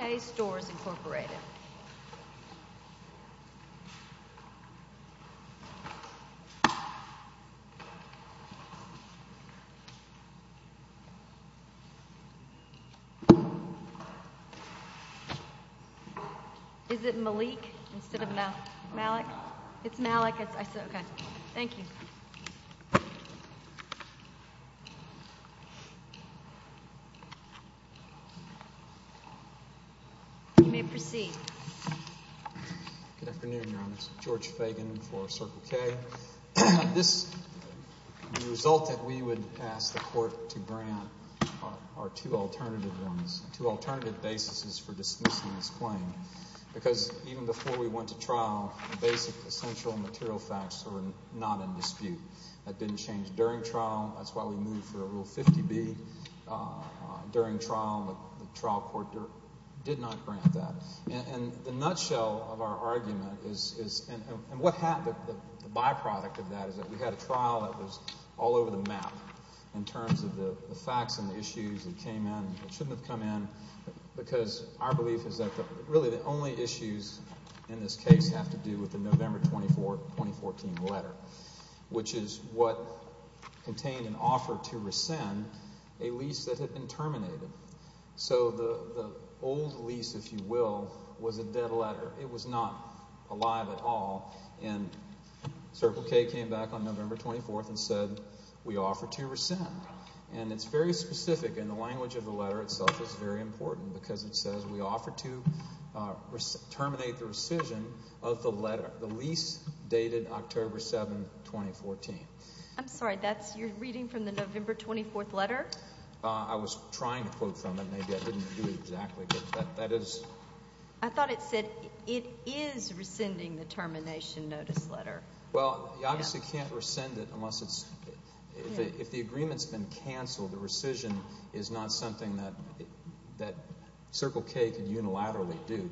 Is it Malik instead of Malik? It's Malik. I said, okay. Thank you. You may proceed. Good afternoon, Your Honor. It's George Fagan for Circle K. The result that we would ask the court to grant are two alternative ones, two alternative basis for dismissing this claim. Because even before we went to trial, the basic essential material facts were not in dispute. That didn't change during trial. That's why we moved for a Rule 50B. But during trial, the trial court did not grant that. And the nutshell of our argument is – and what happened, the byproduct of that is that we had a trial that was all over the map in terms of the facts and the issues that came in and shouldn't have come in. Because our belief is that really the only issues in this case have to do with the November 2014 letter, which is what contained an offer to rescind a lease that had been terminated. So the old lease, if you will, was a dead letter. It was not alive at all. And Circle K came back on November 24th and said, we offer to rescind. And it's very specific, and the language of the letter itself is very important because it says, we offer to terminate the rescission of the letter, the lease dated October 7, 2014. I'm sorry. That's your reading from the November 24th letter? I was trying to quote from it. Maybe I didn't do it exactly, but that is – I thought it said it is rescinding the termination notice letter. Well, you obviously can't rescind it unless it's – if the agreement's been canceled, the rescission is not something that Circle K can unilaterally do.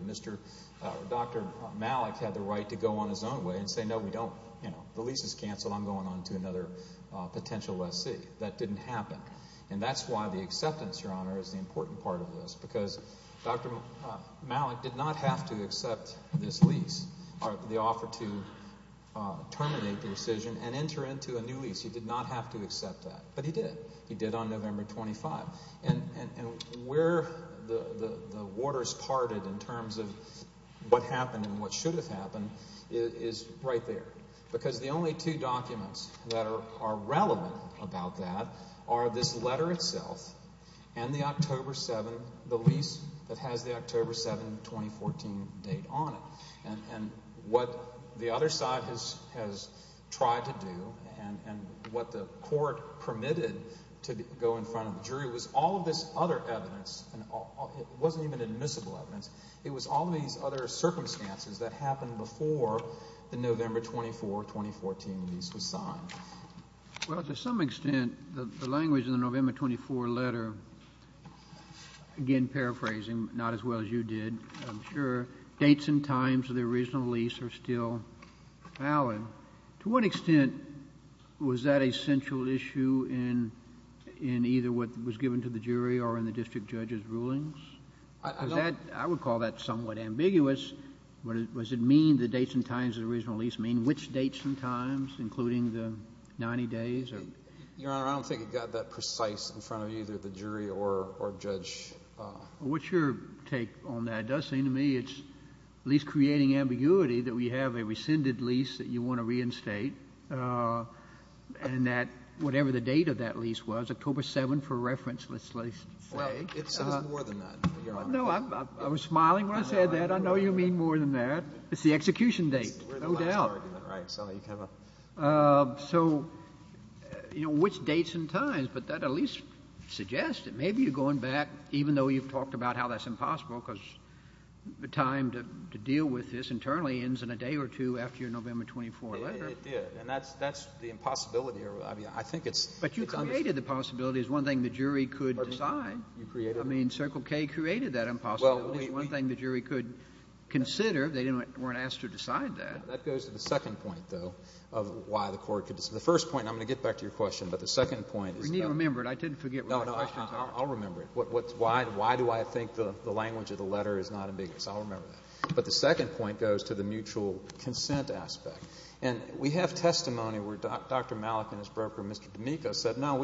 Dr. Malik had the right to go on his own way and say, no, we don't – the lease is canceled. I'm going on to another potential lessee. That didn't happen. And that's why the acceptance, Your Honor, is the important part of this because Dr. Malik did not have to accept this lease or the offer to terminate the rescission and enter into a new lease. He did not have to accept that. But he did. He did on November 25. And where the waters parted in terms of what happened and what should have happened is right there because the only two documents that are relevant about that are this letter itself and the October 7 – the lease that has the October 7, 2014 date on it. And what the other side has tried to do and what the court permitted to go in front of the jury was all of this other evidence, and it wasn't even admissible evidence. It was all these other circumstances that happened before the November 24, 2014 lease was signed. Well, to some extent, the language in the November 24 letter – again, paraphrasing, not as well as you did, I'm sure – the dates and times of the original lease are still valid. To what extent was that a central issue in either what was given to the jury or in the district judge's rulings? I would call that somewhat ambiguous. Does it mean the dates and times of the original lease mean which dates and times, including the 90 days? Your Honor, I don't think it got that precise in front of either the jury or judge. Well, what's your take on that? It does seem to me it's at least creating ambiguity that we have a rescinded lease that you want to reinstate, and that whatever the date of that lease was, October 7 for reference, let's say. Well, it says more than that, Your Honor. No, I was smiling when I said that. I know you mean more than that. It's the execution date, no doubt. We're in the last argument, right. So you have a – So, you know, which dates and times, but that at least suggests that maybe you're going back, even though you've talked about how that's impossible because the time to deal with this internally ends in a day or two after your November 24 letter. Yeah, and that's the impossibility. I mean, I think it's – But you created the possibility as one thing the jury could decide. You created it? I mean, Circle K created that impossibility as one thing the jury could consider. They weren't asked to decide that. That goes to the second point, though, of why the court could decide. The first point, and I'm going to get back to your question, but the second point is – We need to remember it. I didn't forget my questions. No, no, I'll remember it. Why do I think the language of the letter is not ambiguous? I'll remember that. But the second point goes to the mutual consent aspect. And we have testimony where Dr. Malik and his broker, Mr. D'Amico, said, no,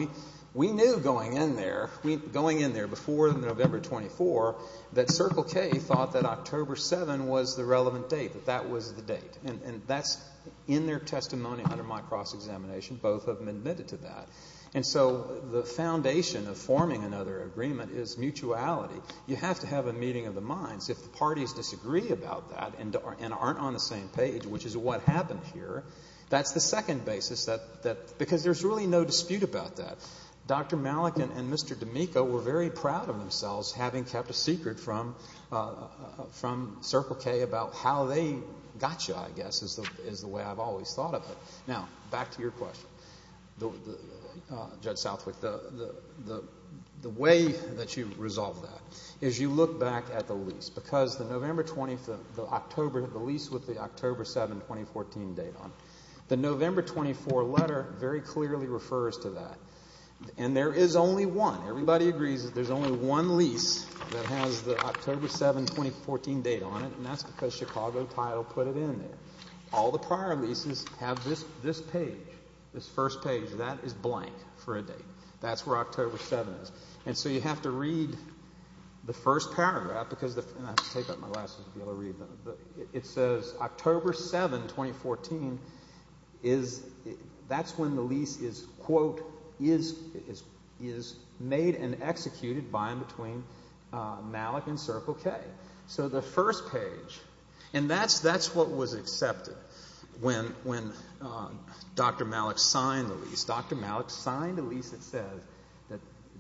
we knew going in there, going in there before November 24, that Circle K thought that October 7 was the relevant date, that that was the date. And that's in their testimony under my cross-examination. Both of them admitted to that. And so the foundation of forming another agreement is mutuality. You have to have a meeting of the minds. If the parties disagree about that and aren't on the same page, which is what happened here, that's the second basis that – because there's really no dispute about that. Dr. Malik and Mr. D'Amico were very proud of themselves having kept a secret from Circle K about how they got you, I guess, is the way I've always thought of it. Now, back to your question, Judge Southwick. The way that you resolve that is you look back at the lease. Because the November 20th, the October, the lease with the October 7, 2014 date on it, the November 24 letter very clearly refers to that. And there is only one. Everybody agrees that there's only one lease that has the October 7, 2014 date on it, and that's because Chicago Title put it in there. All the prior leases have this page, this first page. That is blank for a date. That's where October 7 is. And so you have to read the first paragraph because – and I have to take off my glasses to be able to read that. It says October 7, 2014 is – that's when the lease is, quote, is made and executed by and between Malik and Circle K. So the first page. And that's what was accepted when Dr. Malik signed the lease. It says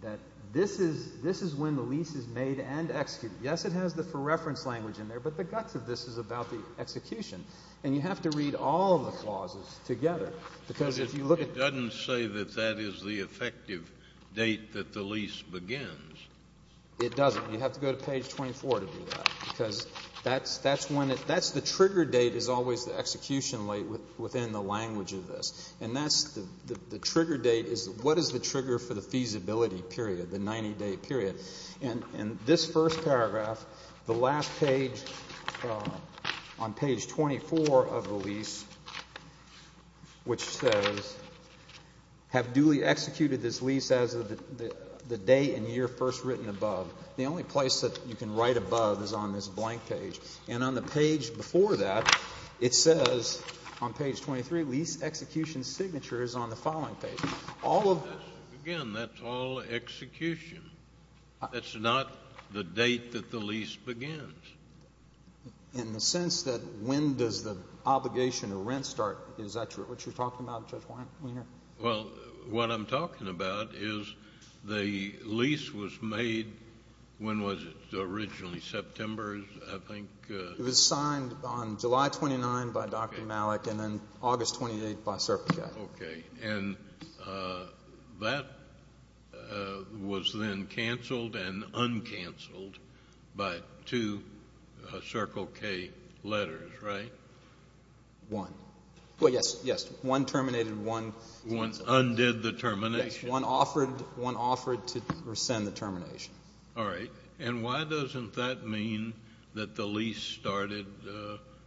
that this is when the lease is made and executed. Yes, it has the for reference language in there, but the guts of this is about the execution. And you have to read all of the clauses together because if you look at – It doesn't say that that is the effective date that the lease begins. It doesn't. You have to go to page 24 to do that because that's when it – that's the trigger date is always the execution date within the language of this. And that's – the trigger date is what is the trigger for the feasibility period, the 90-day period. And this first paragraph, the last page on page 24 of the lease, which says, have duly executed this lease as of the date and year first written above. The only place that you can write above is on this blank page. And on the page before that, it says on page 23, lease execution signature is on the following page. All of – Again, that's all execution. That's not the date that the lease begins. In the sense that when does the obligation to rent start? Is that what you're talking about, Judge Wiener? Well, what I'm talking about is the lease was made – when was it originally? September, I think. It was signed on July 29 by Dr. Malik and then August 28 by Circle K. Okay. And that was then canceled and uncanceled by two Circle K letters, right? One. Well, yes, yes. One terminated, one canceled. One undid the termination. Yes. One offered to rescind the termination. All right. And why doesn't that mean that the lease started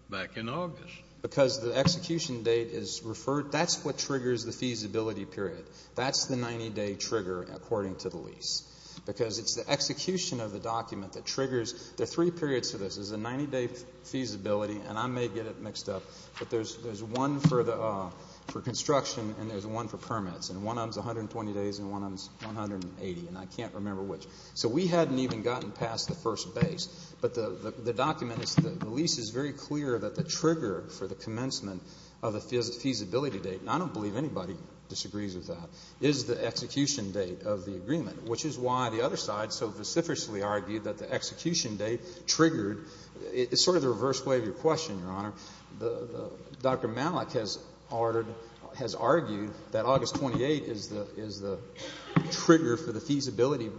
back in August? Because the execution date is referred – that's what triggers the feasibility period. That's the 90-day trigger according to the lease because it's the execution of the document that triggers – there are three periods to this. There's a 90-day feasibility, and I may get it mixed up, but there's one for construction and there's one for permits. And one of them is 120 days and one of them is 180, and I can't remember which. So we hadn't even gotten past the first base. But the document is – the lease is very clear that the trigger for the commencement of the feasibility date, and I don't believe anybody disagrees with that, is the execution date of the agreement, which is why the other side so specifically argued that the execution date triggered – it's sort of the reverse way of your question, Your Honor. Dr. Malik has argued that August 28th is the trigger for the feasibility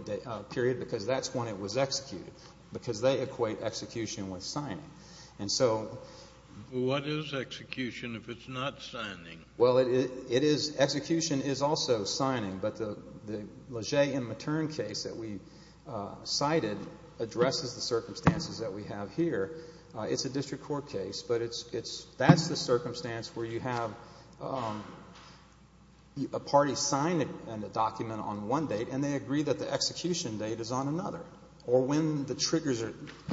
period because that's when it was executed because they equate execution with signing. And so – What is execution if it's not signing? Well, it is – execution is also signing. But the Leger and Matern case that we cited addresses the circumstances that we have here. It's a district court case, but that's the circumstance where you have a party sign a document on one date and they agree that the execution date is on another or when the triggers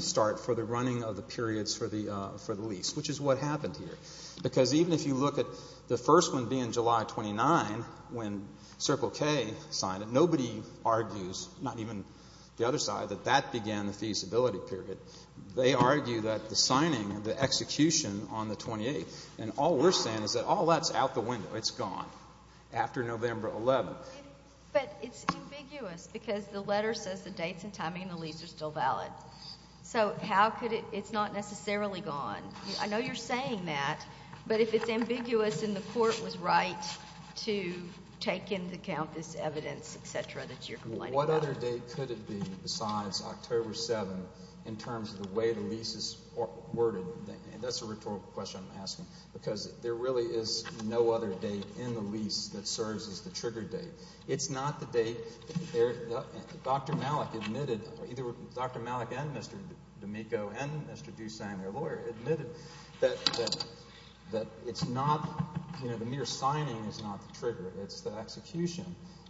start for the running of the periods for the lease, which is what happened here. Because even if you look at the first one being July 29 when Circle K signed it, nobody argues, not even the other side, that that began the feasibility period. They argue that the signing, the execution on the 28th, and all we're saying is that all that's out the window. It's gone after November 11th. But it's ambiguous because the letter says the dates and timing of the lease are still valid. So how could it – it's not necessarily gone. I know you're saying that. But if it's ambiguous and the court was right to take into account this evidence, et cetera, that you're complaining about. What other date could it be besides October 7th in terms of the way the lease is worded? That's a rhetorical question I'm asking because there really is no other date in the lease that serves as the trigger date. It's not the date – Dr. Malik admitted – Dr. Malik and Mr. D'Amico and Mr. DuSagne, their lawyer, admitted that it's not – the mere signing is not the trigger. It's the execution.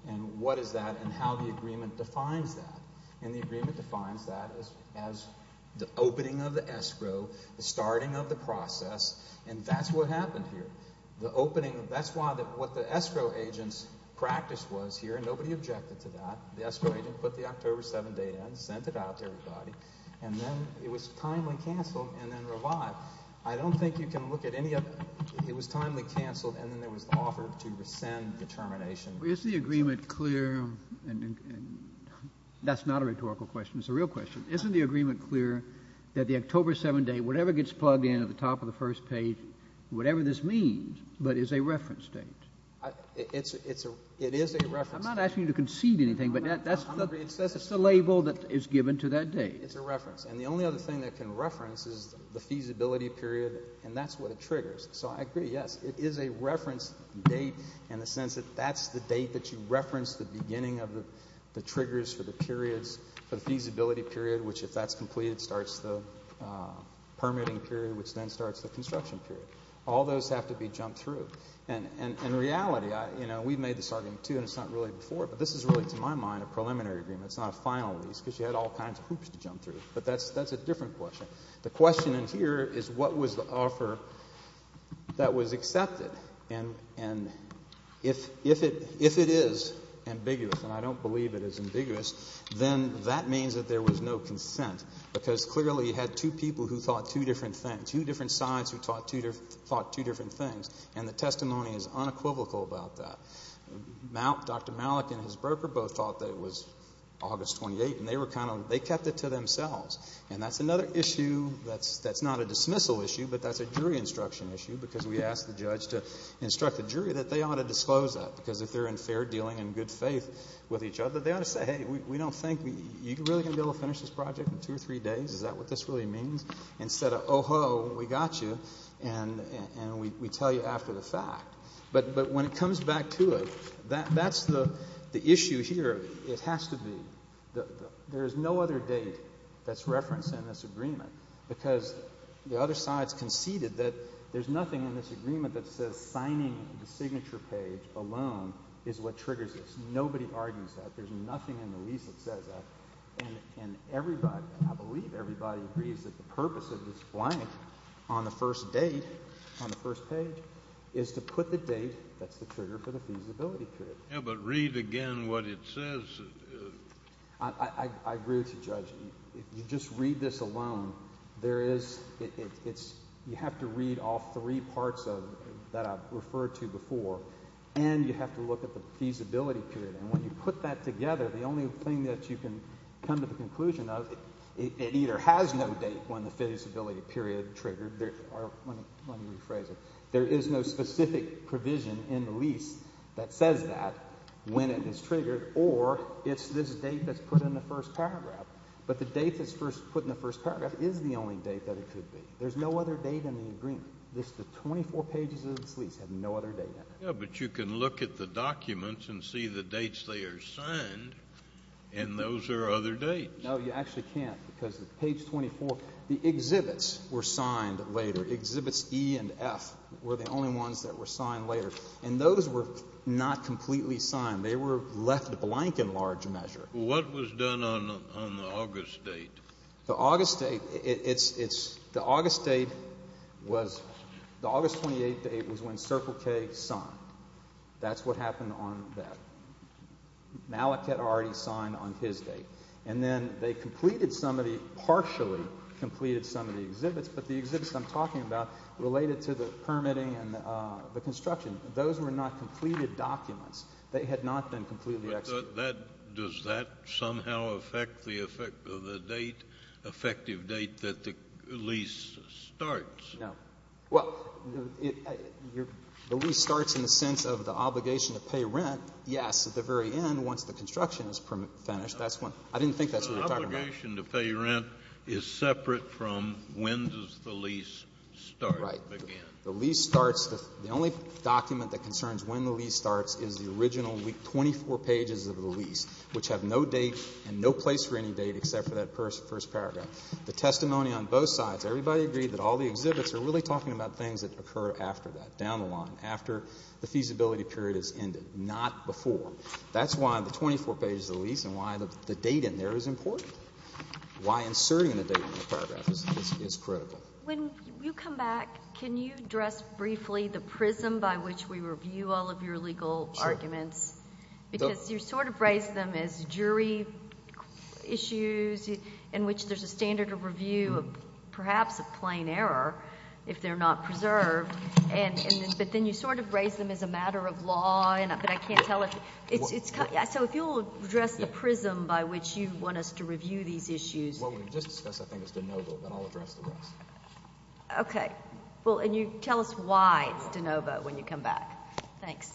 And what is that and how the agreement defines that? And the agreement defines that as the opening of the escrow, the starting of the process, and that's what happened here. The opening – that's what the escrow agent's practice was here, and nobody objected to that. The escrow agent put the October 7th date in, sent it out to everybody, and then it was timely canceled and then revived. I don't think you can look at any of – it was timely canceled and then there was the offer to rescind the termination. Is the agreement clear – that's not a rhetorical question. It's a real question. Isn't the agreement clear that the October 7th date, whatever gets plugged in at the top of the first page, whatever this means, but is a reference date? It is a reference date. I'm not asking you to concede anything, but that's the label that is given to that date. It's a reference, and the only other thing that can reference is the feasibility period, and that's what it triggers. So I agree, yes, it is a reference date in the sense that that's the date that you reference the beginning of the triggers for the periods, for the feasibility period, which if that's completed starts the permitting period, which then starts the construction period. All those have to be jumped through. And in reality, we've made this argument, too, and it's not really before, but this is really, to my mind, a preliminary agreement. It's not a final one because you had all kinds of hoops to jump through, but that's a different question. The question in here is what was the offer that was accepted, and if it is ambiguous, and I don't believe it is ambiguous, then that means that there was no consent because clearly you had two people who thought two different things, and two different sides who thought two different things, and the testimony is unequivocal about that. Dr. Malik and his broker both thought that it was August 28th, and they kept it to themselves. And that's another issue that's not a dismissal issue, but that's a jury instruction issue because we asked the judge to instruct the jury that they ought to disclose that because if they're in fair dealing and good faith with each other, they ought to say, hey, we don't think you're really going to be able to finish this project in two or three days. Is that what this really means? Instead of, oh, ho, we got you, and we tell you after the fact. But when it comes back to it, that's the issue here. It has to be. There is no other date that's referenced in this agreement because the other sides conceded that there's nothing in this agreement that says signing the signature page alone is what triggers this. Nobody argues that. There's nothing in the lease that says that. And I believe everybody agrees that the purpose of this blank on the first date, on the first page, is to put the date that's the trigger for the feasibility period. Yeah, but read again what it says. I agree with you, Judge. If you just read this alone, you have to read all three parts that I've referred to before, and you have to look at the feasibility period. And when you put that together, the only thing that you can come to the conclusion of, it either has no date when the feasibility period triggered. Let me rephrase it. There is no specific provision in the lease that says that when it is triggered, or it's this date that's put in the first paragraph. But the date that's put in the first paragraph is the only date that it could be. There's no other date in the agreement. Just the 24 pages of this lease have no other date in it. Yeah, but you can look at the documents and see the dates they are signed, and those are other dates. No, you actually can't, because page 24, the exhibits were signed later. Exhibits E and F were the only ones that were signed later. And those were not completely signed. They were left blank in large measure. What was done on the August date? The August date was when Circle K signed. That's what happened on that. Malachet already signed on his date. And then they partially completed some of the exhibits, but the exhibits I'm talking about related to the permitting and the construction. Those were not completed documents. They had not been completely executed. Does that somehow affect the effect of the date, effective date that the lease starts? No. Well, the lease starts in the sense of the obligation to pay rent, yes, at the very end, once the construction is finished. I didn't think that's what you're talking about. The obligation to pay rent is separate from when does the lease start again. Right. The lease starts the only document that concerns when the lease starts is the original 24 pages of the lease, which have no date and no place for any date except for that first paragraph. The testimony on both sides, everybody agreed that all the exhibits are really talking about things that occur after that, down the line, after the feasibility period has ended, not before. That's why the 24 pages of the lease and why the date in there is important. Why inserting the date in the paragraph is critical. When you come back, can you address briefly the prism by which we review all of your legal arguments? Sure. Because you sort of raise them as jury issues in which there's a standard of review of perhaps a plain error if they're not preserved, but then you sort of raise them as a matter of law, but I can't tell if... Well... So if you'll address the prism by which you want us to review these issues... What we just discussed, I think, is de novo, then I'll address the rest. Okay. Well, and you tell us why it's de novo when you come back. Thanks.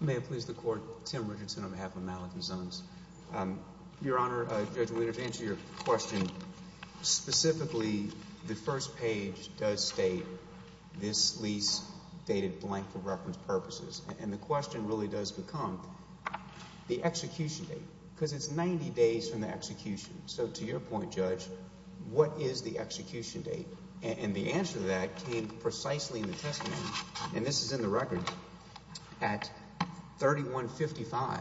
May it please the Court. Tim Richardson on behalf of Malachy Zones. Your Honor, Judge Wheeler, to answer your question, specifically the first page does state this lease dated blank for reference purposes, and the question really does become the execution date, because it's 90 days from the execution. So to your point, Judge, what is the execution date? And the answer to that came precisely in the testimony, and this is in the record. At 3155,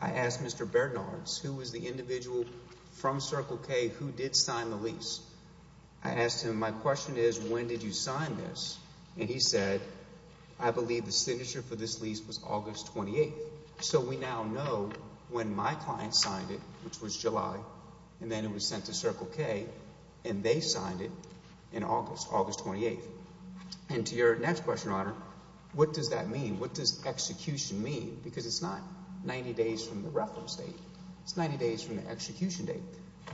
I asked Mr. Bernards, who was the individual from Circle K who did sign the lease. I asked him, my question is, when did you sign this? And he said, I believe the signature for this lease was August 28th. So we now know when my client signed it, which was July, and then it was sent to Circle K, and they signed it in August, August 28th. And to your next question, Your Honor, what does that mean? What does execution mean? Because it's not 90 days from the reference date. It's 90 days from the execution date.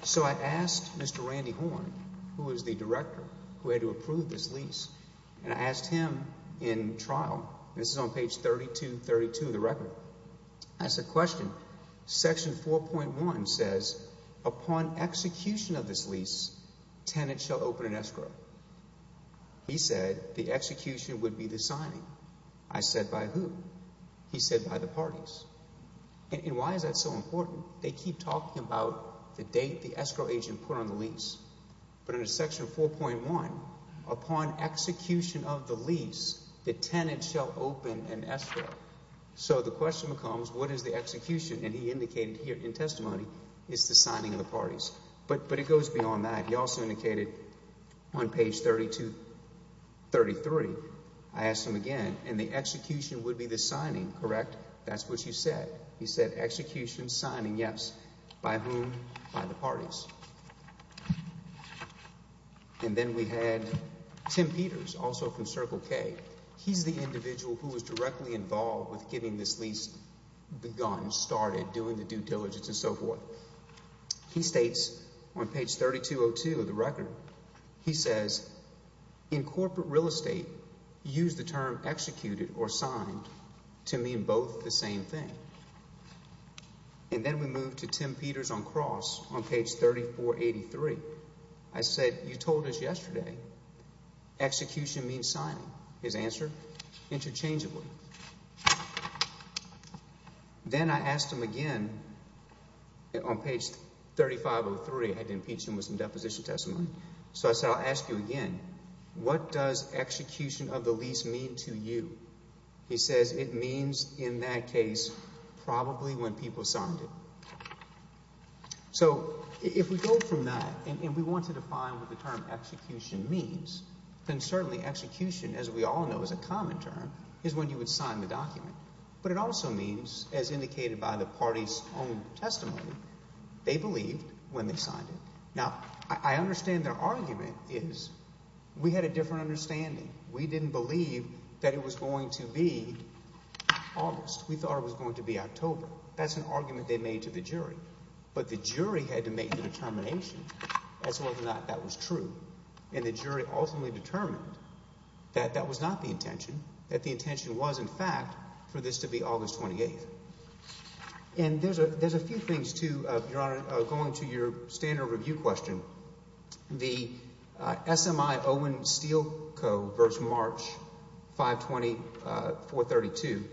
So I asked Mr. Randy Horn, who was the director who had to approve this lease, and I asked him in trial, and this is on page 3232 of the record, I said, question, section 4.1 says, upon execution of this lease, tenants shall open an escrow. He said, the execution would be the signing. I said, by who? He said, by the parties. And why is that so important? They keep talking about the date the escrow agent put on the lease. But under section 4.1, upon execution of the lease, the tenant shall open an escrow. So the question becomes, what is the execution? And he indicated here in testimony, it's the signing of the parties. But it goes beyond that. He also indicated on page 3233, I asked him again, and the execution would be the signing. Correct? That's what you said. He said, execution, signing, yes. By whom? By the parties. And then we had Tim Peters, also from Circle K. He's the individual who was directly involved with getting this lease begun, started, doing the due diligence, and so forth. He states on page 3202 of the record, he says, in corporate real estate, use the term executed or signed to mean both the same thing. And then we move to Tim Peters on Cross, on page 3483. I said, you told us yesterday, execution means signing. His answer? Interchangeably. Then I asked him again, on page 3503, I had to impeach him with some deposition testimony. So I said, I'll ask you again, what does execution of the lease mean to you? He says, it means, in that case, probably when people signed it. So, if we go from that, and we want to define what the term execution means, then certainly execution, as we all know is a common term, is when you would sign the document. But it also means, as indicated by the party's own testimony, they believed when they signed it. Now, I understand their argument is, we had a different understanding. We didn't believe that it was going to be August. We thought it was going to be October. That's an argument they made to the jury. But the jury had to make the determination as to whether or not that was true. And the jury ultimately determined that that was not the intention, that the intention was, in fact, for this to be August 28th. And there's a few things, too, Your Honor, going to your standard review question. The SMI Owen Steel Co. v. March 520, 432,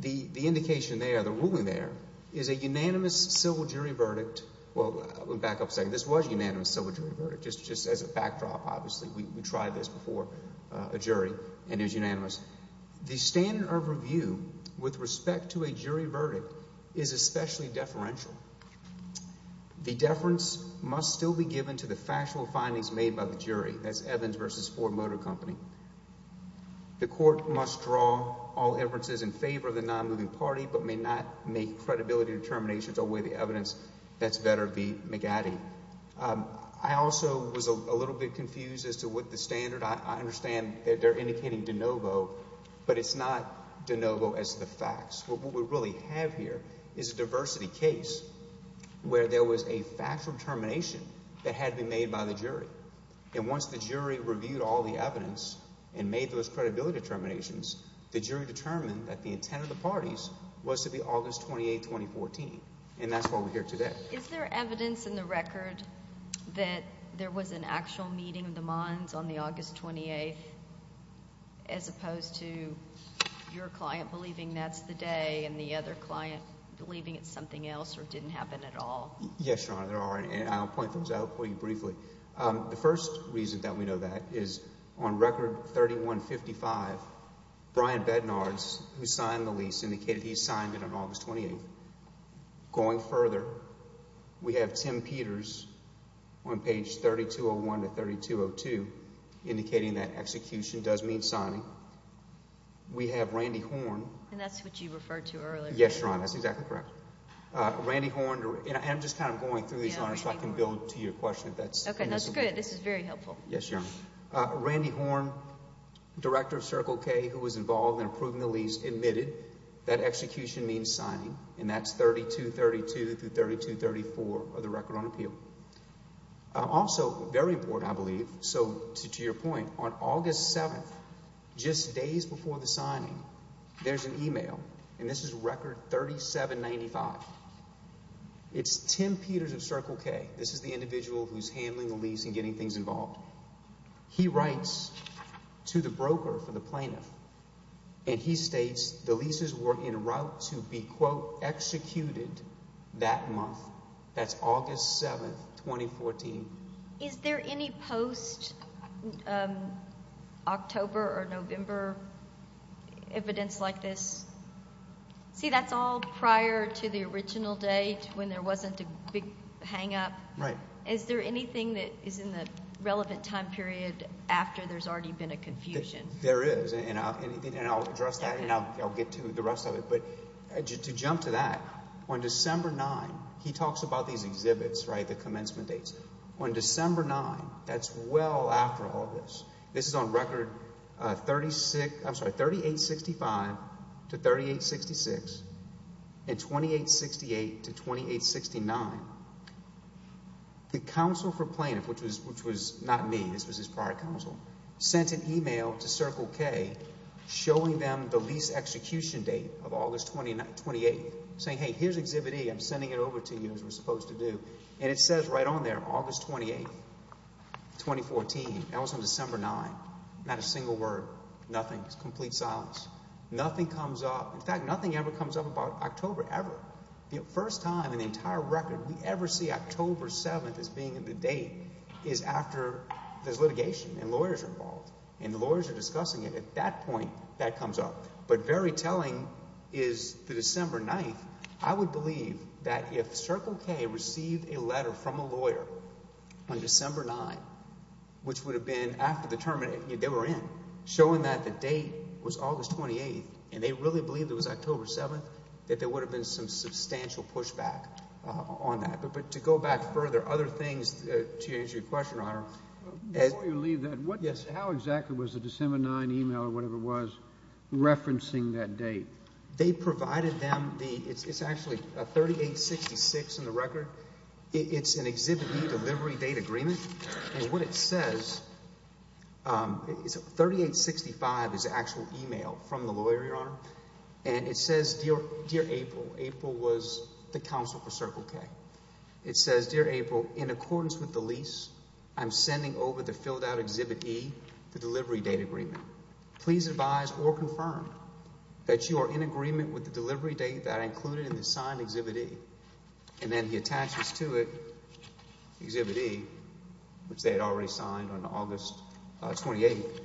the indication there, the ruling there, is a unanimous civil jury verdict. Well, let me back up a second. This was a unanimous civil jury verdict, just as a backdrop, obviously. We tried this before, a jury, and it was unanimous. The standard of review with respect to a jury verdict is especially deferential. The deference must still be given to the factual findings made by the jury. That's Evans v. Ford Motor Company. The court must draw all inferences in favor of the non-moving party, but may not make credibility determinations or weigh the evidence. That's better be McAddy. I also was a little bit confused as to what the standard. I understand that they're indicating De Novo, but it's not De Novo as the facts. What we really have here is a diversity case where there was a factual determination that had to be made by the jury. Once the jury reviewed all the evidence and made those credibility determinations, the jury determined that the intent of the parties was to be August 28, 2014, and that's why we're here today. Is there evidence in the record that there was an actual meeting of the Monds on the that's the day and the other client believing it's something else or didn't happen at all? Yes, Your Honor, there are. I'll point those out for you briefly. The first reason that we know that is on Record 3155, Brian Bednars, who signed the lease, indicated he signed it on August 28. Going further, we have Tim Peters on page 3201 to 3202 indicating that execution does mean signing. We have Randy Horne. And that's what you referred to earlier. Yes, Your Honor, that's exactly correct. Randy Horne, and I'm just kind of going through these, Your Honor, so I can build to your question. Okay, that's good. This is very helpful. Yes, Your Honor. Randy Horne, director of Circle K, who was involved in approving the lease, admitted that execution means signing, and that's 3232 through 3234 of the Record on Appeal. Also, very important, I believe, so to your point, on August 7th, just days before the signing, there's an email, and this is Record 3795. It's Tim Peters of Circle K. This is the individual who's handling the lease and getting things involved. He writes to the broker for the plaintiff, and he states the leases were en route to be, quote, executed that month. That's August 7th, 2014. Is there any post-October or November evidence like this? See, that's all prior to the original date, when there wasn't a big hangup. Right. Is there anything that is in the relevant time period after there's already been a confusion? There is, and I'll address that, and I'll get to the rest of it. To jump to that, on December 9th, he talks about these exhibits, right, the commencement dates. On December 9th, that's well after all of this. This is on Record 3865 to 3866, and 2868 to 2869. The counsel for plaintiff, which was not me, this was his prior counsel, sent an email to Circle K showing them the lease execution date of August 28th, saying, hey, here's Exhibit E. I'm sending it over to you, as we're supposed to do. It says right on there, August 28th, 2014. That was on December 9th. Not a single word. Nothing. Complete silence. Nothing comes up. In fact, nothing ever comes up about October, ever. The first time in the entire record we ever see October 7th as being the date is after there's litigation, and lawyers are involved. And the lawyers are discussing it. At that point, that comes up. But very telling is the December 9th. I would believe that if Circle K received a letter from a lawyer on December 9th, which would have been after the term they were in, showing that the date was August 28th, and they really believed it was October 7th, that there would have been some substantial pushback on that. Before you leave that, how exactly was the December 9th email, or whatever it was, referencing that date? They provided them the... it's actually a 3866 in the record. It's an Exhibit E delivery date agreement. And what it says... 3865 is the actual email from the lawyer, Your Honor. And it says, Dear April... April was the counsel for Circle K. It says, Dear April, in accordance with the lease, I'm sending over the filled-out Exhibit E, the delivery date agreement. Please advise or confirm that you are in agreement with the delivery date that I included in the signed Exhibit E. And then he attaches to it Exhibit E, which they had already signed on August 28th,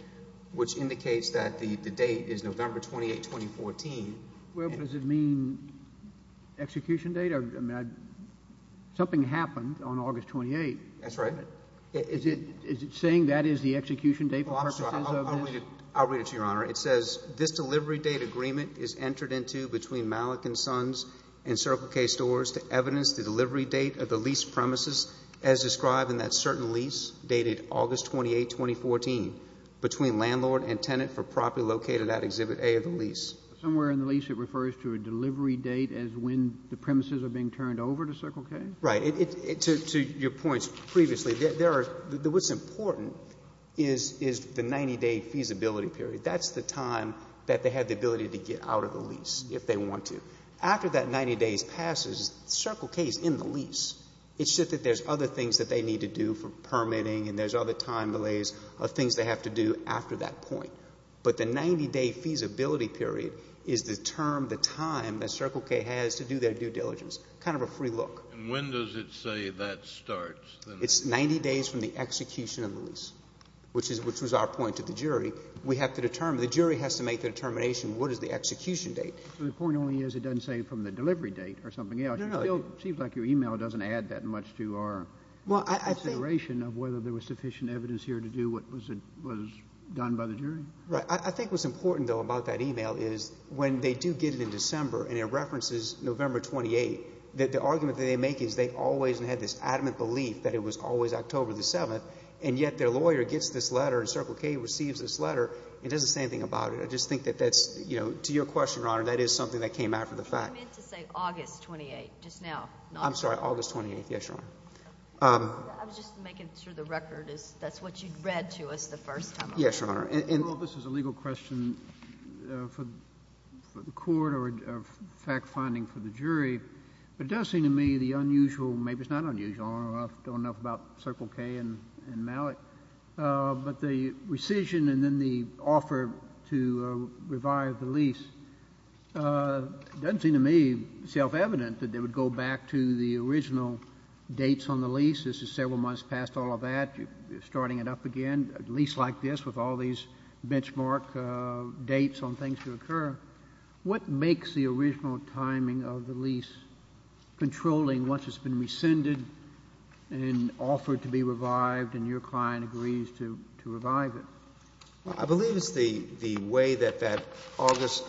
which indicates that the date is November 28, 2014. Well, does it mean execution date? Something happened on August 28th. That's right. Is it saying that is the execution date for purposes of this? I'll read it to you, Your Honor. It says, This delivery date agreement is entered into between Malik & Sons and Circle K stores to evidence the delivery date of the lease premises as described in that certain lease dated August 28, 2014, between landlord and tenant for property located at Exhibit A of the lease. Somewhere in the lease it refers to a delivery date as when the premises are being turned over to Circle K? Right. To your points previously, there are — what's important is the 90-day feasibility period. That's the time that they have the ability to get out of the lease if they want to. After that 90 days passes, Circle K is in the lease. It's just that there's other things that they need to do for permitting and there's other time delays of things they have to do after that point. But the 90-day feasibility period is the term, the time that Circle K has to do their due diligence, kind of a free look. And when does it say that starts? It's 90 days from the execution of the lease, which was our point to the jury. We have to determine — the jury has to make the determination what is the execution date. The point only is it doesn't say from the delivery date or something else. No, no. It still seems like your e-mail doesn't add that much to our consideration of whether there was sufficient evidence here to do what was done by the jury. Right. I think what's important, though, about that e-mail is when they do get it in December and it references November 28th, that the argument that they make is they always had this adamant belief that it was always October the 7th, and yet their lawyer gets this letter and Circle K receives this letter and does the same thing about it. I just think that that's — you know, to your question, Your Honor, that is something that came after the fact. I meant to say August 28th, just now. I'm sorry. August 28th. Yes, Your Honor. I was just making sure the record is — that's what you read to us the first time. Yes, Your Honor. And — Well, this is a legal question for the court or fact-finding for the jury, but it does seem to me the unusual — maybe it's not unusual. I don't know enough about Circle K and Malik. But the rescission and then the offer to revive the lease doesn't seem to me self-evident that they would go back to the original dates on the lease. This is several months past all of that. You're starting it up again, a lease like this with all these benchmark dates on things to occur. What makes the original timing of the lease controlling once it's been rescinded and offered to be revived and your client agrees to revive it? Well, I believe it's the way that that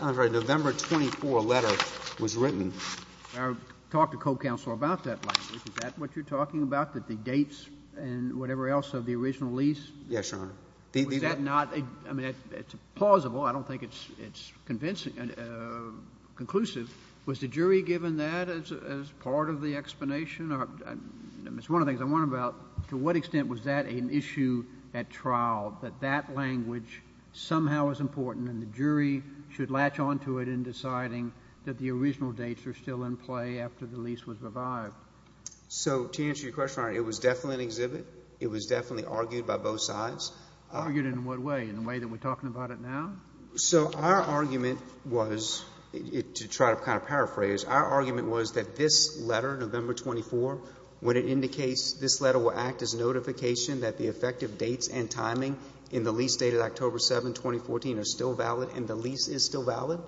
November 24 letter was written. I talked to co-counsel about that language. Is that what you're talking about, that the dates and whatever else of the original lease — Yes, Your Honor. Was that not — I mean, it's plausible. I don't think it's convincing — conclusive. Was the jury given that as part of the explanation? I mean, it's one of the things I'm wondering about, to what extent was that an issue at trial, that that language somehow is important and the jury should latch onto it in deciding that the original dates are still in play after the lease was revived? So to answer your question, Your Honor, it was definitely an exhibit. It was definitely argued by both sides. Argued in what way? In the way that we're talking about it now? So our argument was — to try to kind of paraphrase, our argument was that this letter, November 24, when it indicates this letter will act as notification that the effective dates and timing in the lease dated October 7, 2014, are still valid and the lease is still valid,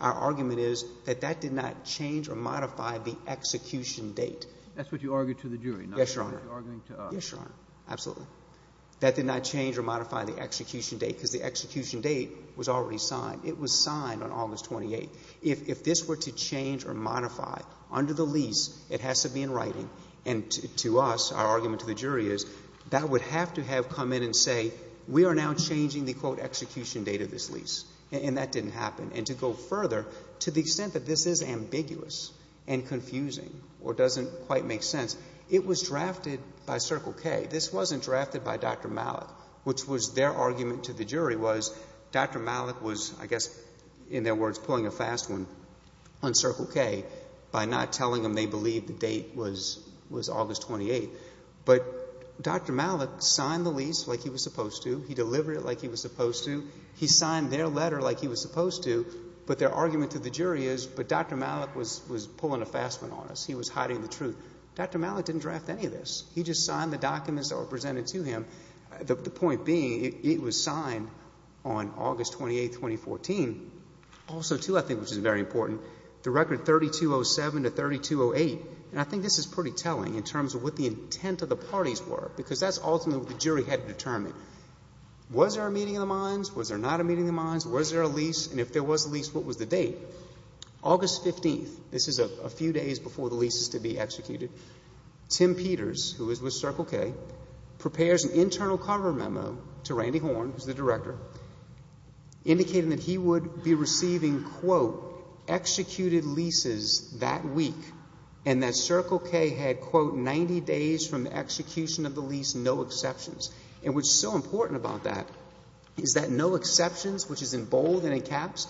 our argument is that that did not change or modify the execution date. That's what you argued to the jury, not what you're arguing to us. Yes, Your Honor. Yes, Your Honor. Absolutely. That did not change or modify the execution date, because the execution date was already signed. It was signed on August 28. If this were to change or modify under the lease, it has to be in writing, and to us, our argument to the jury is that would have to have come in and say, we are now changing the, quote, execution date of this lease, and that didn't happen. And to go further, to the extent that this is ambiguous and confusing or doesn't quite make sense, it was drafted by Circle K. This wasn't drafted by Dr. Malik, which was their argument to the jury was Dr. Malik was, I guess, in their words, pulling a fast one on Circle K by not telling them they believed the date was August 28. But Dr. Malik signed the lease like he was supposed to. He delivered it like he was supposed to. He signed their letter like he was supposed to. But their argument to the jury is, but Dr. Malik was pulling a fast one on us. He was hiding the truth. Dr. Malik didn't draft any of this. He just signed the documents that were presented to him. The point being, it was signed on August 28, 2014. Also, too, I think, which is very important, the record 3207 to 3208, and I think this is pretty telling in terms of what the intent of the parties were, because that's ultimately what the jury had to determine. Was there a meeting of the minds? Was there not a meeting of the minds? Was there a lease? And if there was a lease, what was the date? August 15th, this is a few days before the lease is to be executed, Tim Peters, who is with Circle K, prepares an internal cover memo to Randy Horn, who is the director, indicating that he would be receiving, quote, executed leases that week, and that Circle K had, quote, 90 days from the execution of the lease, no exceptions. And what's so important about that is that no exceptions, which is in bold and in caps,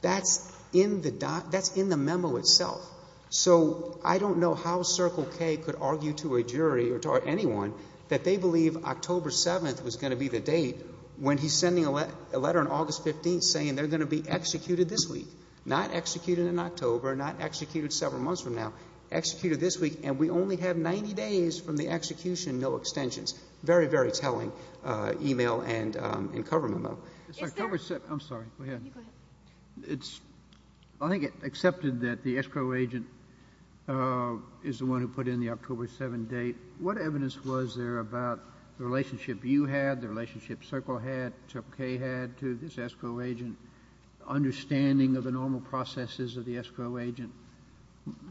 that's in the memo itself. So I don't know how Circle K could argue to a jury or to anyone that they believe October 7th was going to be the date when he's sending a letter on August 15th saying they're going to be executed this week, not executed in October, not executed several months from now, executed this week, and we only have 90 days from the execution, no extensions. Very, very telling email and cover memo. I'm sorry. Go ahead. I think it's accepted that the escrow agent is the one who put in the October 7th date. What evidence was there about the relationship you had, the relationship Circle had, Circle K had to this escrow agent, understanding of the normal processes of the escrow agent?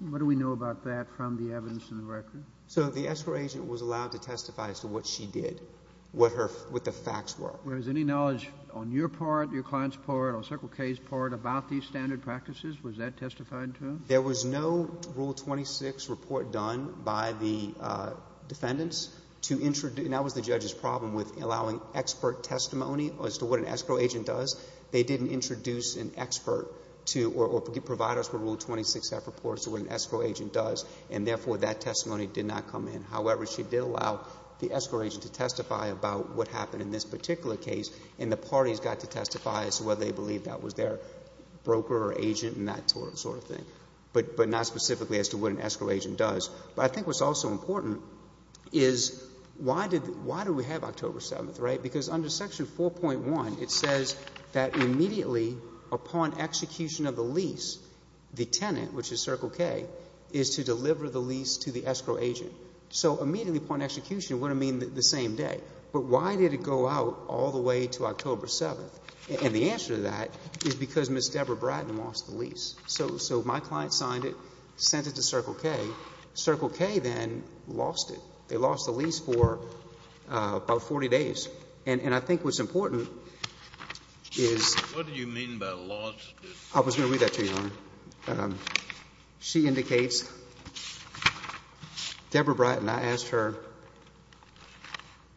What do we know about that from the evidence in the record? So the escrow agent was allowed to testify as to what she did, what the facts were. Was there any knowledge on your part, your client's part, or Circle K's part about these standard practices? Was that testified to? There was no Rule 26 report done by the defendants to introduce, and that was the judge's problem with allowing expert testimony as to what an escrow agent does. They didn't introduce an expert to or provide us with Rule 26 F reports to what an escrow agent does, and therefore, that testimony did not come in. However, she did allow the escrow agent to testify about what happened in this particular case, and the parties got to testify as to whether they believed that was their broker or agent and that sort of thing, but not specifically as to what an escrow agent does. But I think what's also important is why did we have October 7th, right? Because under Section 4.1, it says that immediately upon execution of the lease, the tenant, which is Circle K, is to deliver the lease to the escrow agent. So immediately upon execution would have meant the same day. But why did it go out all the way to October 7th? And the answer to that is because Ms. Deborah Brighton lost the lease. So my client signed it, sent it to Circle K. Circle K then lost it. They lost the lease for about 40 days. And I think what's important is. Kennedy, what do you mean by lost? I was going to read that to you, Your Honor. She indicates Deborah Brighton. And I asked her,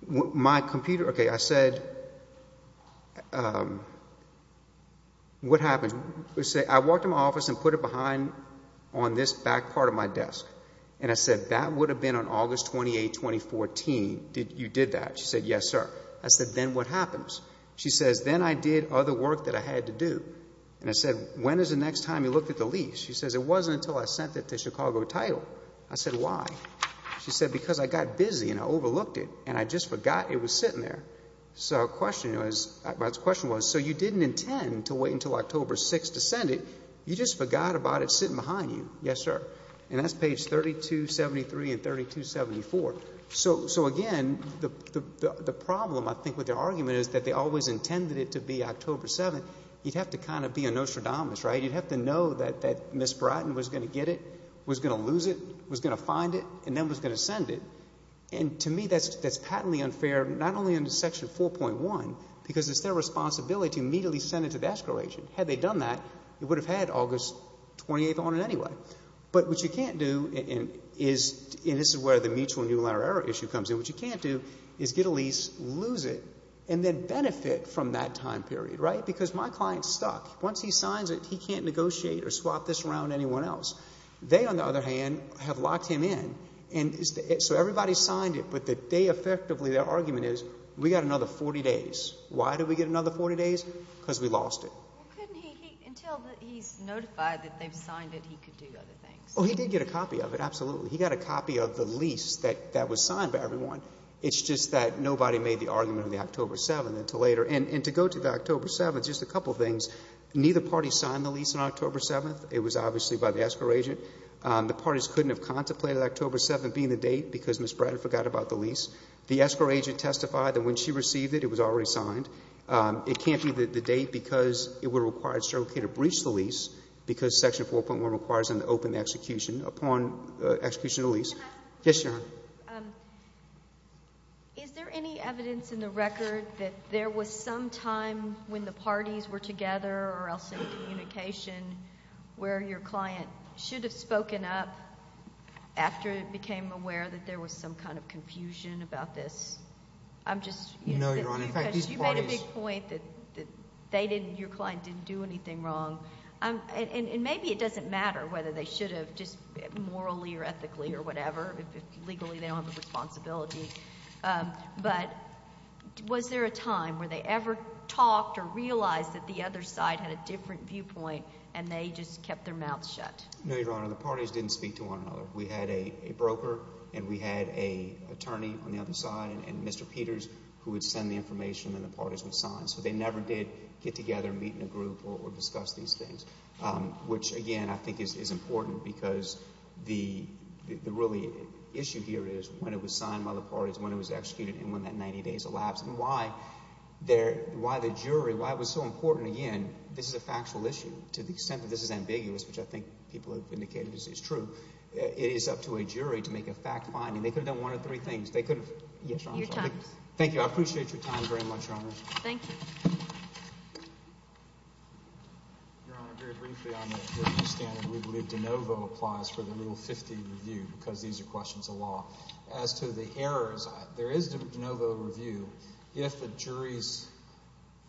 my computer. Okay, I said, what happened? I walked in my office and put it behind on this back part of my desk. And I said, that would have been on August 28, 2014. You did that? She said, yes, sir. I said, then what happens? She says, then I did other work that I had to do. And I said, when is the next time you looked at the lease? She says, it wasn't until I sent it to Chicago Title. I said, why? She said, because I got busy and I overlooked it. And I just forgot it was sitting there. So the question was, so you didn't intend to wait until October 6 to send it? You just forgot about it sitting behind you? Yes, sir. And that's page 3273 and 3274. So, again, the problem, I think, with their argument is that they always intended it to be October 7. You'd have to kind of be a Nostradamus, right? You'd have to know that Ms. Bratton was going to get it, was going to lose it, was going to find it, and then was going to send it. And to me, that's patently unfair, not only under Section 4.1, because it's their responsibility to immediately send it to the escrow agent. Had they done that, it would have had August 28 on it anyway. But what you can't do, and this is where the mutual new letter error issue comes in, what you can't do is get a lease, lose it, and then benefit from that time period, right? Because my client's stuck. Once he signs it, he can't negotiate or swap this around to anyone else. They, on the other hand, have locked him in. So everybody signed it, but they effectively, their argument is we got another 40 days. Why did we get another 40 days? Because we lost it. Well, couldn't he, until he's notified that they've signed it, he could do other things? Oh, he did get a copy of it, absolutely. He got a copy of the lease that was signed by everyone. It's just that nobody made the argument of the October 7 until later. And to go to the October 7, just a couple of things. Neither party signed the lease on October 7. It was obviously by the escrow agent. The parties couldn't have contemplated October 7 being the date because Ms. Bratton forgot about the lease. The escrow agent testified that when she received it, it was already signed. It can't be the date because it would require a certificate of breach of the lease Yes, Your Honor. Is there any evidence in the record that there was some time when the parties were together or else in communication where your client should have spoken up after it became aware that there was some kind of confusion about this? No, Your Honor. Because you made a big point that they didn't, your client didn't do anything wrong. And maybe it doesn't matter whether they should have just morally or ethically or whatever. Legally, they don't have a responsibility. But was there a time where they ever talked or realized that the other side had a different viewpoint and they just kept their mouths shut? No, Your Honor. The parties didn't speak to one another. We had a broker and we had an attorney on the other side and Mr. Peters who would send the information and the parties would sign. So they never did get together and meet in a group or discuss these things, which, again, I think is important because the really issue here is when it was signed by the parties, when it was executed, and when that 90 days elapsed. And why the jury, why it was so important, again, this is a factual issue. To the extent that this is ambiguous, which I think people have indicated is true, it is up to a jury to make a fact finding. They could have done one of three things. Your time is up. Thank you. I appreciate your time very much, Your Honor. Thank you. Your Honor, very briefly on the standard, we believe de novo applies for the Rule 50 review because these are questions of law. As to the errors, there is a de novo review if the jury's,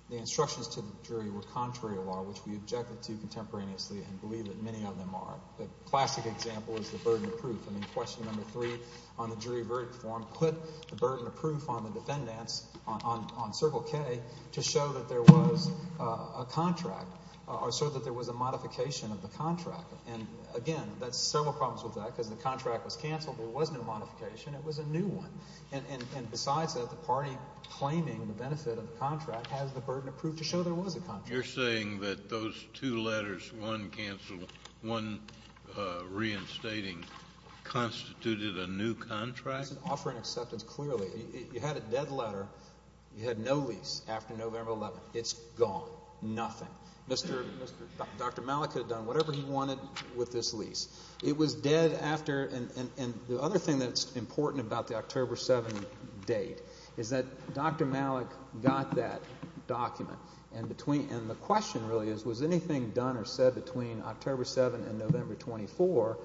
the instructions to the jury were contrary to law, which we objected to contemporaneously and believe that many of them are. The classic example is the burden of proof. I mean, question number three on the jury verdict form, put the burden of proof on the defendants, on Circle K, to show that there was a contract or so that there was a modification of the contract. And, again, there's several problems with that because the contract was canceled. There was no modification. It was a new one. And besides that, the party claiming the benefit of the contract has the burden of proof to show there was a contract. You're saying that those two letters, one canceled, one reinstating, constituted a new contract? It's an offer in acceptance, clearly. You had a dead letter. You had no lease after November 11th. It's gone, nothing. Dr. Malik could have done whatever he wanted with this lease. It was dead after. And the other thing that's important about the October 7th date is that Dr. Malik got that document, and the question really is was anything done or said between October 7th and November 24th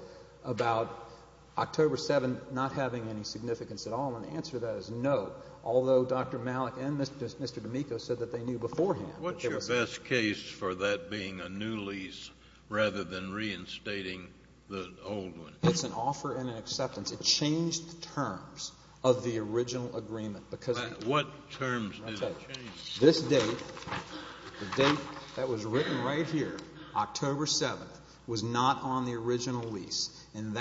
about October 7th not having any significance at all? And the answer to that is no, although Dr. Malik and Mr. D'Amico said that they knew beforehand. What's your best case for that being a new lease rather than reinstating the old one? It's an offer in acceptance. It changed the terms of the original agreement. What terms did it change? This date, the date that was written right here, October 7th, was not on the original lease. And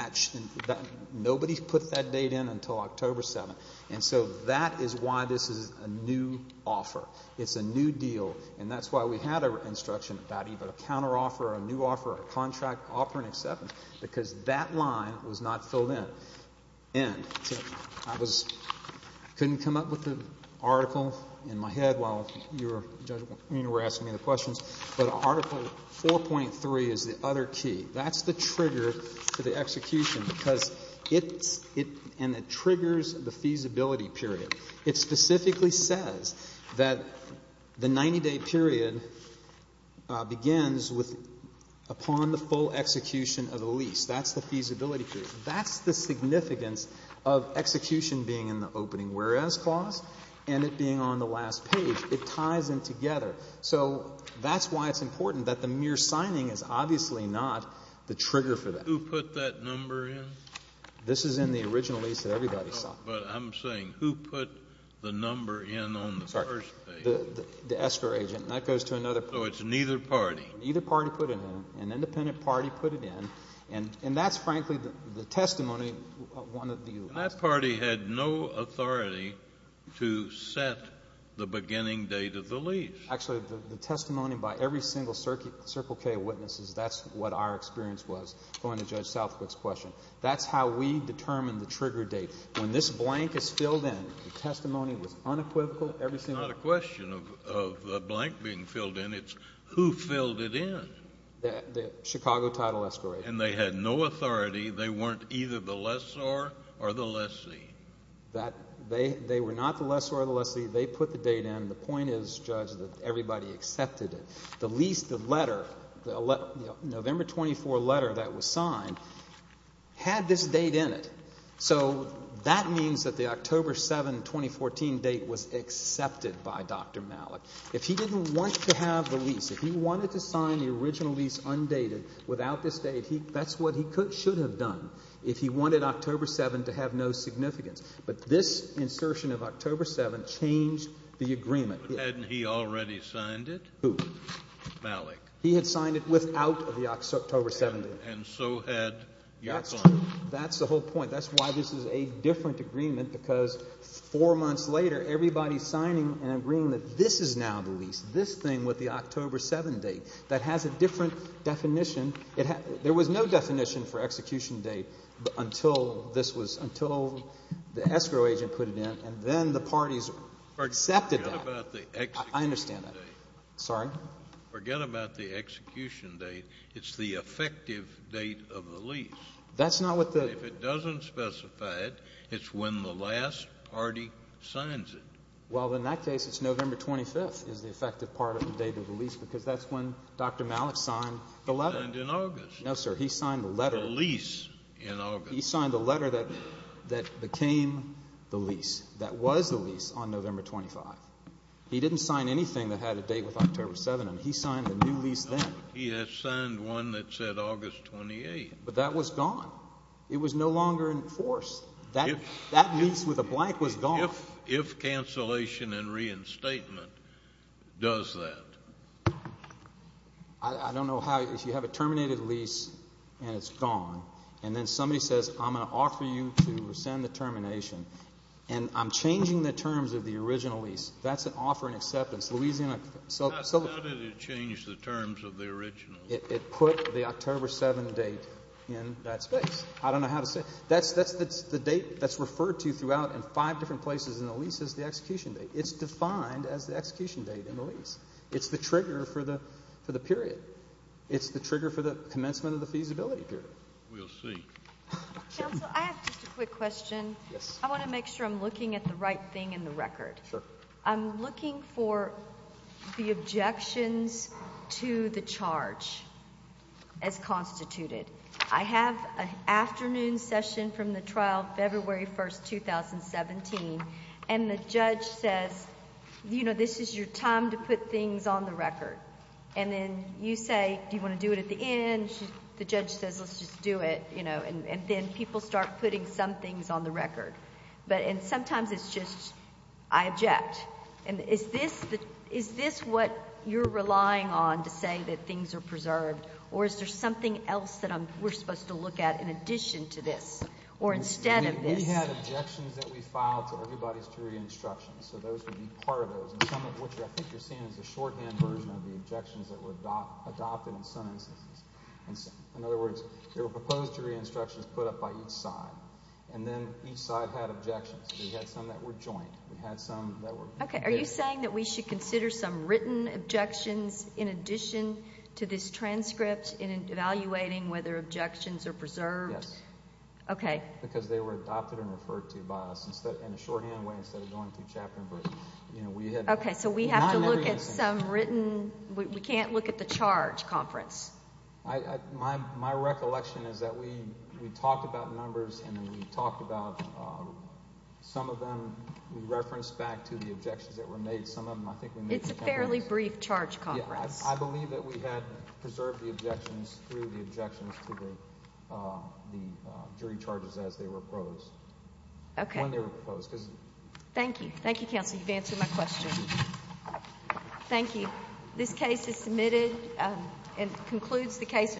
nobody put that date in until October 7th. And so that is why this is a new offer. It's a new deal. And that's why we had an instruction about either a counteroffer or a new offer or a contract offer in acceptance because that line was not filled in. And I couldn't come up with an article in my head while you were asking me the questions, but Article 4.3 is the other key. That's the trigger for the execution because it's and it triggers the feasibility period. It specifically says that the 90-day period begins upon the full execution of the lease. That's the feasibility period. That's the significance of execution being in the opening whereas clause and it being on the last page. It ties them together. So that's why it's important that the mere signing is obviously not the trigger for that. Who put that number in? This is in the original lease that everybody signed. But I'm saying who put the number in on the first page? The escrow agent. And that goes to another party. So it's neither party. Neither party put it in. An independent party put it in. And that's, frankly, the testimony of one of the U.S. And that party had no authority to set the beginning date of the lease. Actually, the testimony by every single Circle K witness is that's what our experience was going to Judge Southwick's question. That's how we determine the trigger date. When this blank is filled in, the testimony was unequivocal every single day. It's not a question of a blank being filled in. It's who filled it in. The Chicago title escrow agent. And they had no authority. They weren't either the lessor or the lessee. They were not the lessor or the lessee. They put the date in. The point is, Judge, that everybody accepted it. The lease, the letter, the November 24 letter that was signed had this date in it. So that means that the October 7, 2014 date was accepted by Dr. Malik. If he didn't want to have the lease, if he wanted to sign the original lease undated without this date, that's what he should have done. If he wanted October 7 to have no significance. But this insertion of October 7 changed the agreement. Hadn't he already signed it? Who? Malik. He had signed it without the October 7 date. And so had your client. That's the whole point. That's why this is a different agreement because four months later everybody's signing and agreeing that this is now the lease, this thing with the October 7 date. That has a different definition. There was no definition for execution date until this was, until the escrow agent put it in. And then the parties accepted that. Forget about the execution date. I understand that. Sorry? Forget about the execution date. It's the effective date of the lease. That's not what the If it doesn't specify it, it's when the last party signs it. Well, in that case, it's November 25th is the effective part of the date of the lease because that's when Dr. Malik signed the letter. Signed in August. No, sir. He signed the letter. The lease in August. He signed the letter that became the lease, that was the lease on November 25. He didn't sign anything that had a date with October 7. He signed a new lease then. No, but he had signed one that said August 28. But that was gone. It was no longer enforced. That lease with a blank was gone. If cancellation and reinstatement does that. I don't know how. If you have a terminated lease and it's gone, and then somebody says, I'm going to offer you to rescind the termination, and I'm changing the terms of the original lease, that's an offer in acceptance. How did it change the terms of the original? It put the October 7 date in that space. I don't know how to say it. That's the date that's referred to throughout in five different places in the lease as the execution date. It's defined as the execution date in the lease. It's the trigger for the period. It's the trigger for the commencement of the feasibility period. We'll see. Counsel, I have just a quick question. Yes. I want to make sure I'm looking at the right thing in the record. Sure. I'm looking for the objections to the charge as constituted. I have an afternoon session from the trial February 1, 2017, and the judge says, this is your time to put things on the record. And then you say, do you want to do it at the end? The judge says, let's just do it. And then people start putting some things on the record. And sometimes it's just, I object. And is this what you're relying on to say that things are preserved? Or is there something else that we're supposed to look at in addition to this or instead of this? We had objections that we filed to everybody's jury instructions. So those would be part of those. And some of what I think you're seeing is a shorthand version of the objections that were adopted in some instances. In other words, there were proposed jury instructions put up by each side. And then each side had objections. We had some that were joint. We had some that were... Okay. Are you saying that we should consider some written objections in addition to this transcript in evaluating whether objections are preserved? Yes. Okay. Because they were adopted and referred to by us in a shorthand way instead of going through chapter and verse. Okay. So we have to look at some written... We can't look at the charge conference. My recollection is that we talked about numbers and then we talked about some of them. We referenced back to the objections that were made. Some of them I think we made... It's a fairly brief charge conference. I believe that we had preserved the objections through the objections to the jury charges as they were proposed. Okay. When they were proposed. Thank you. Thank you, counsel. You've answered my question. Thank you. This case is submitted and concludes the case.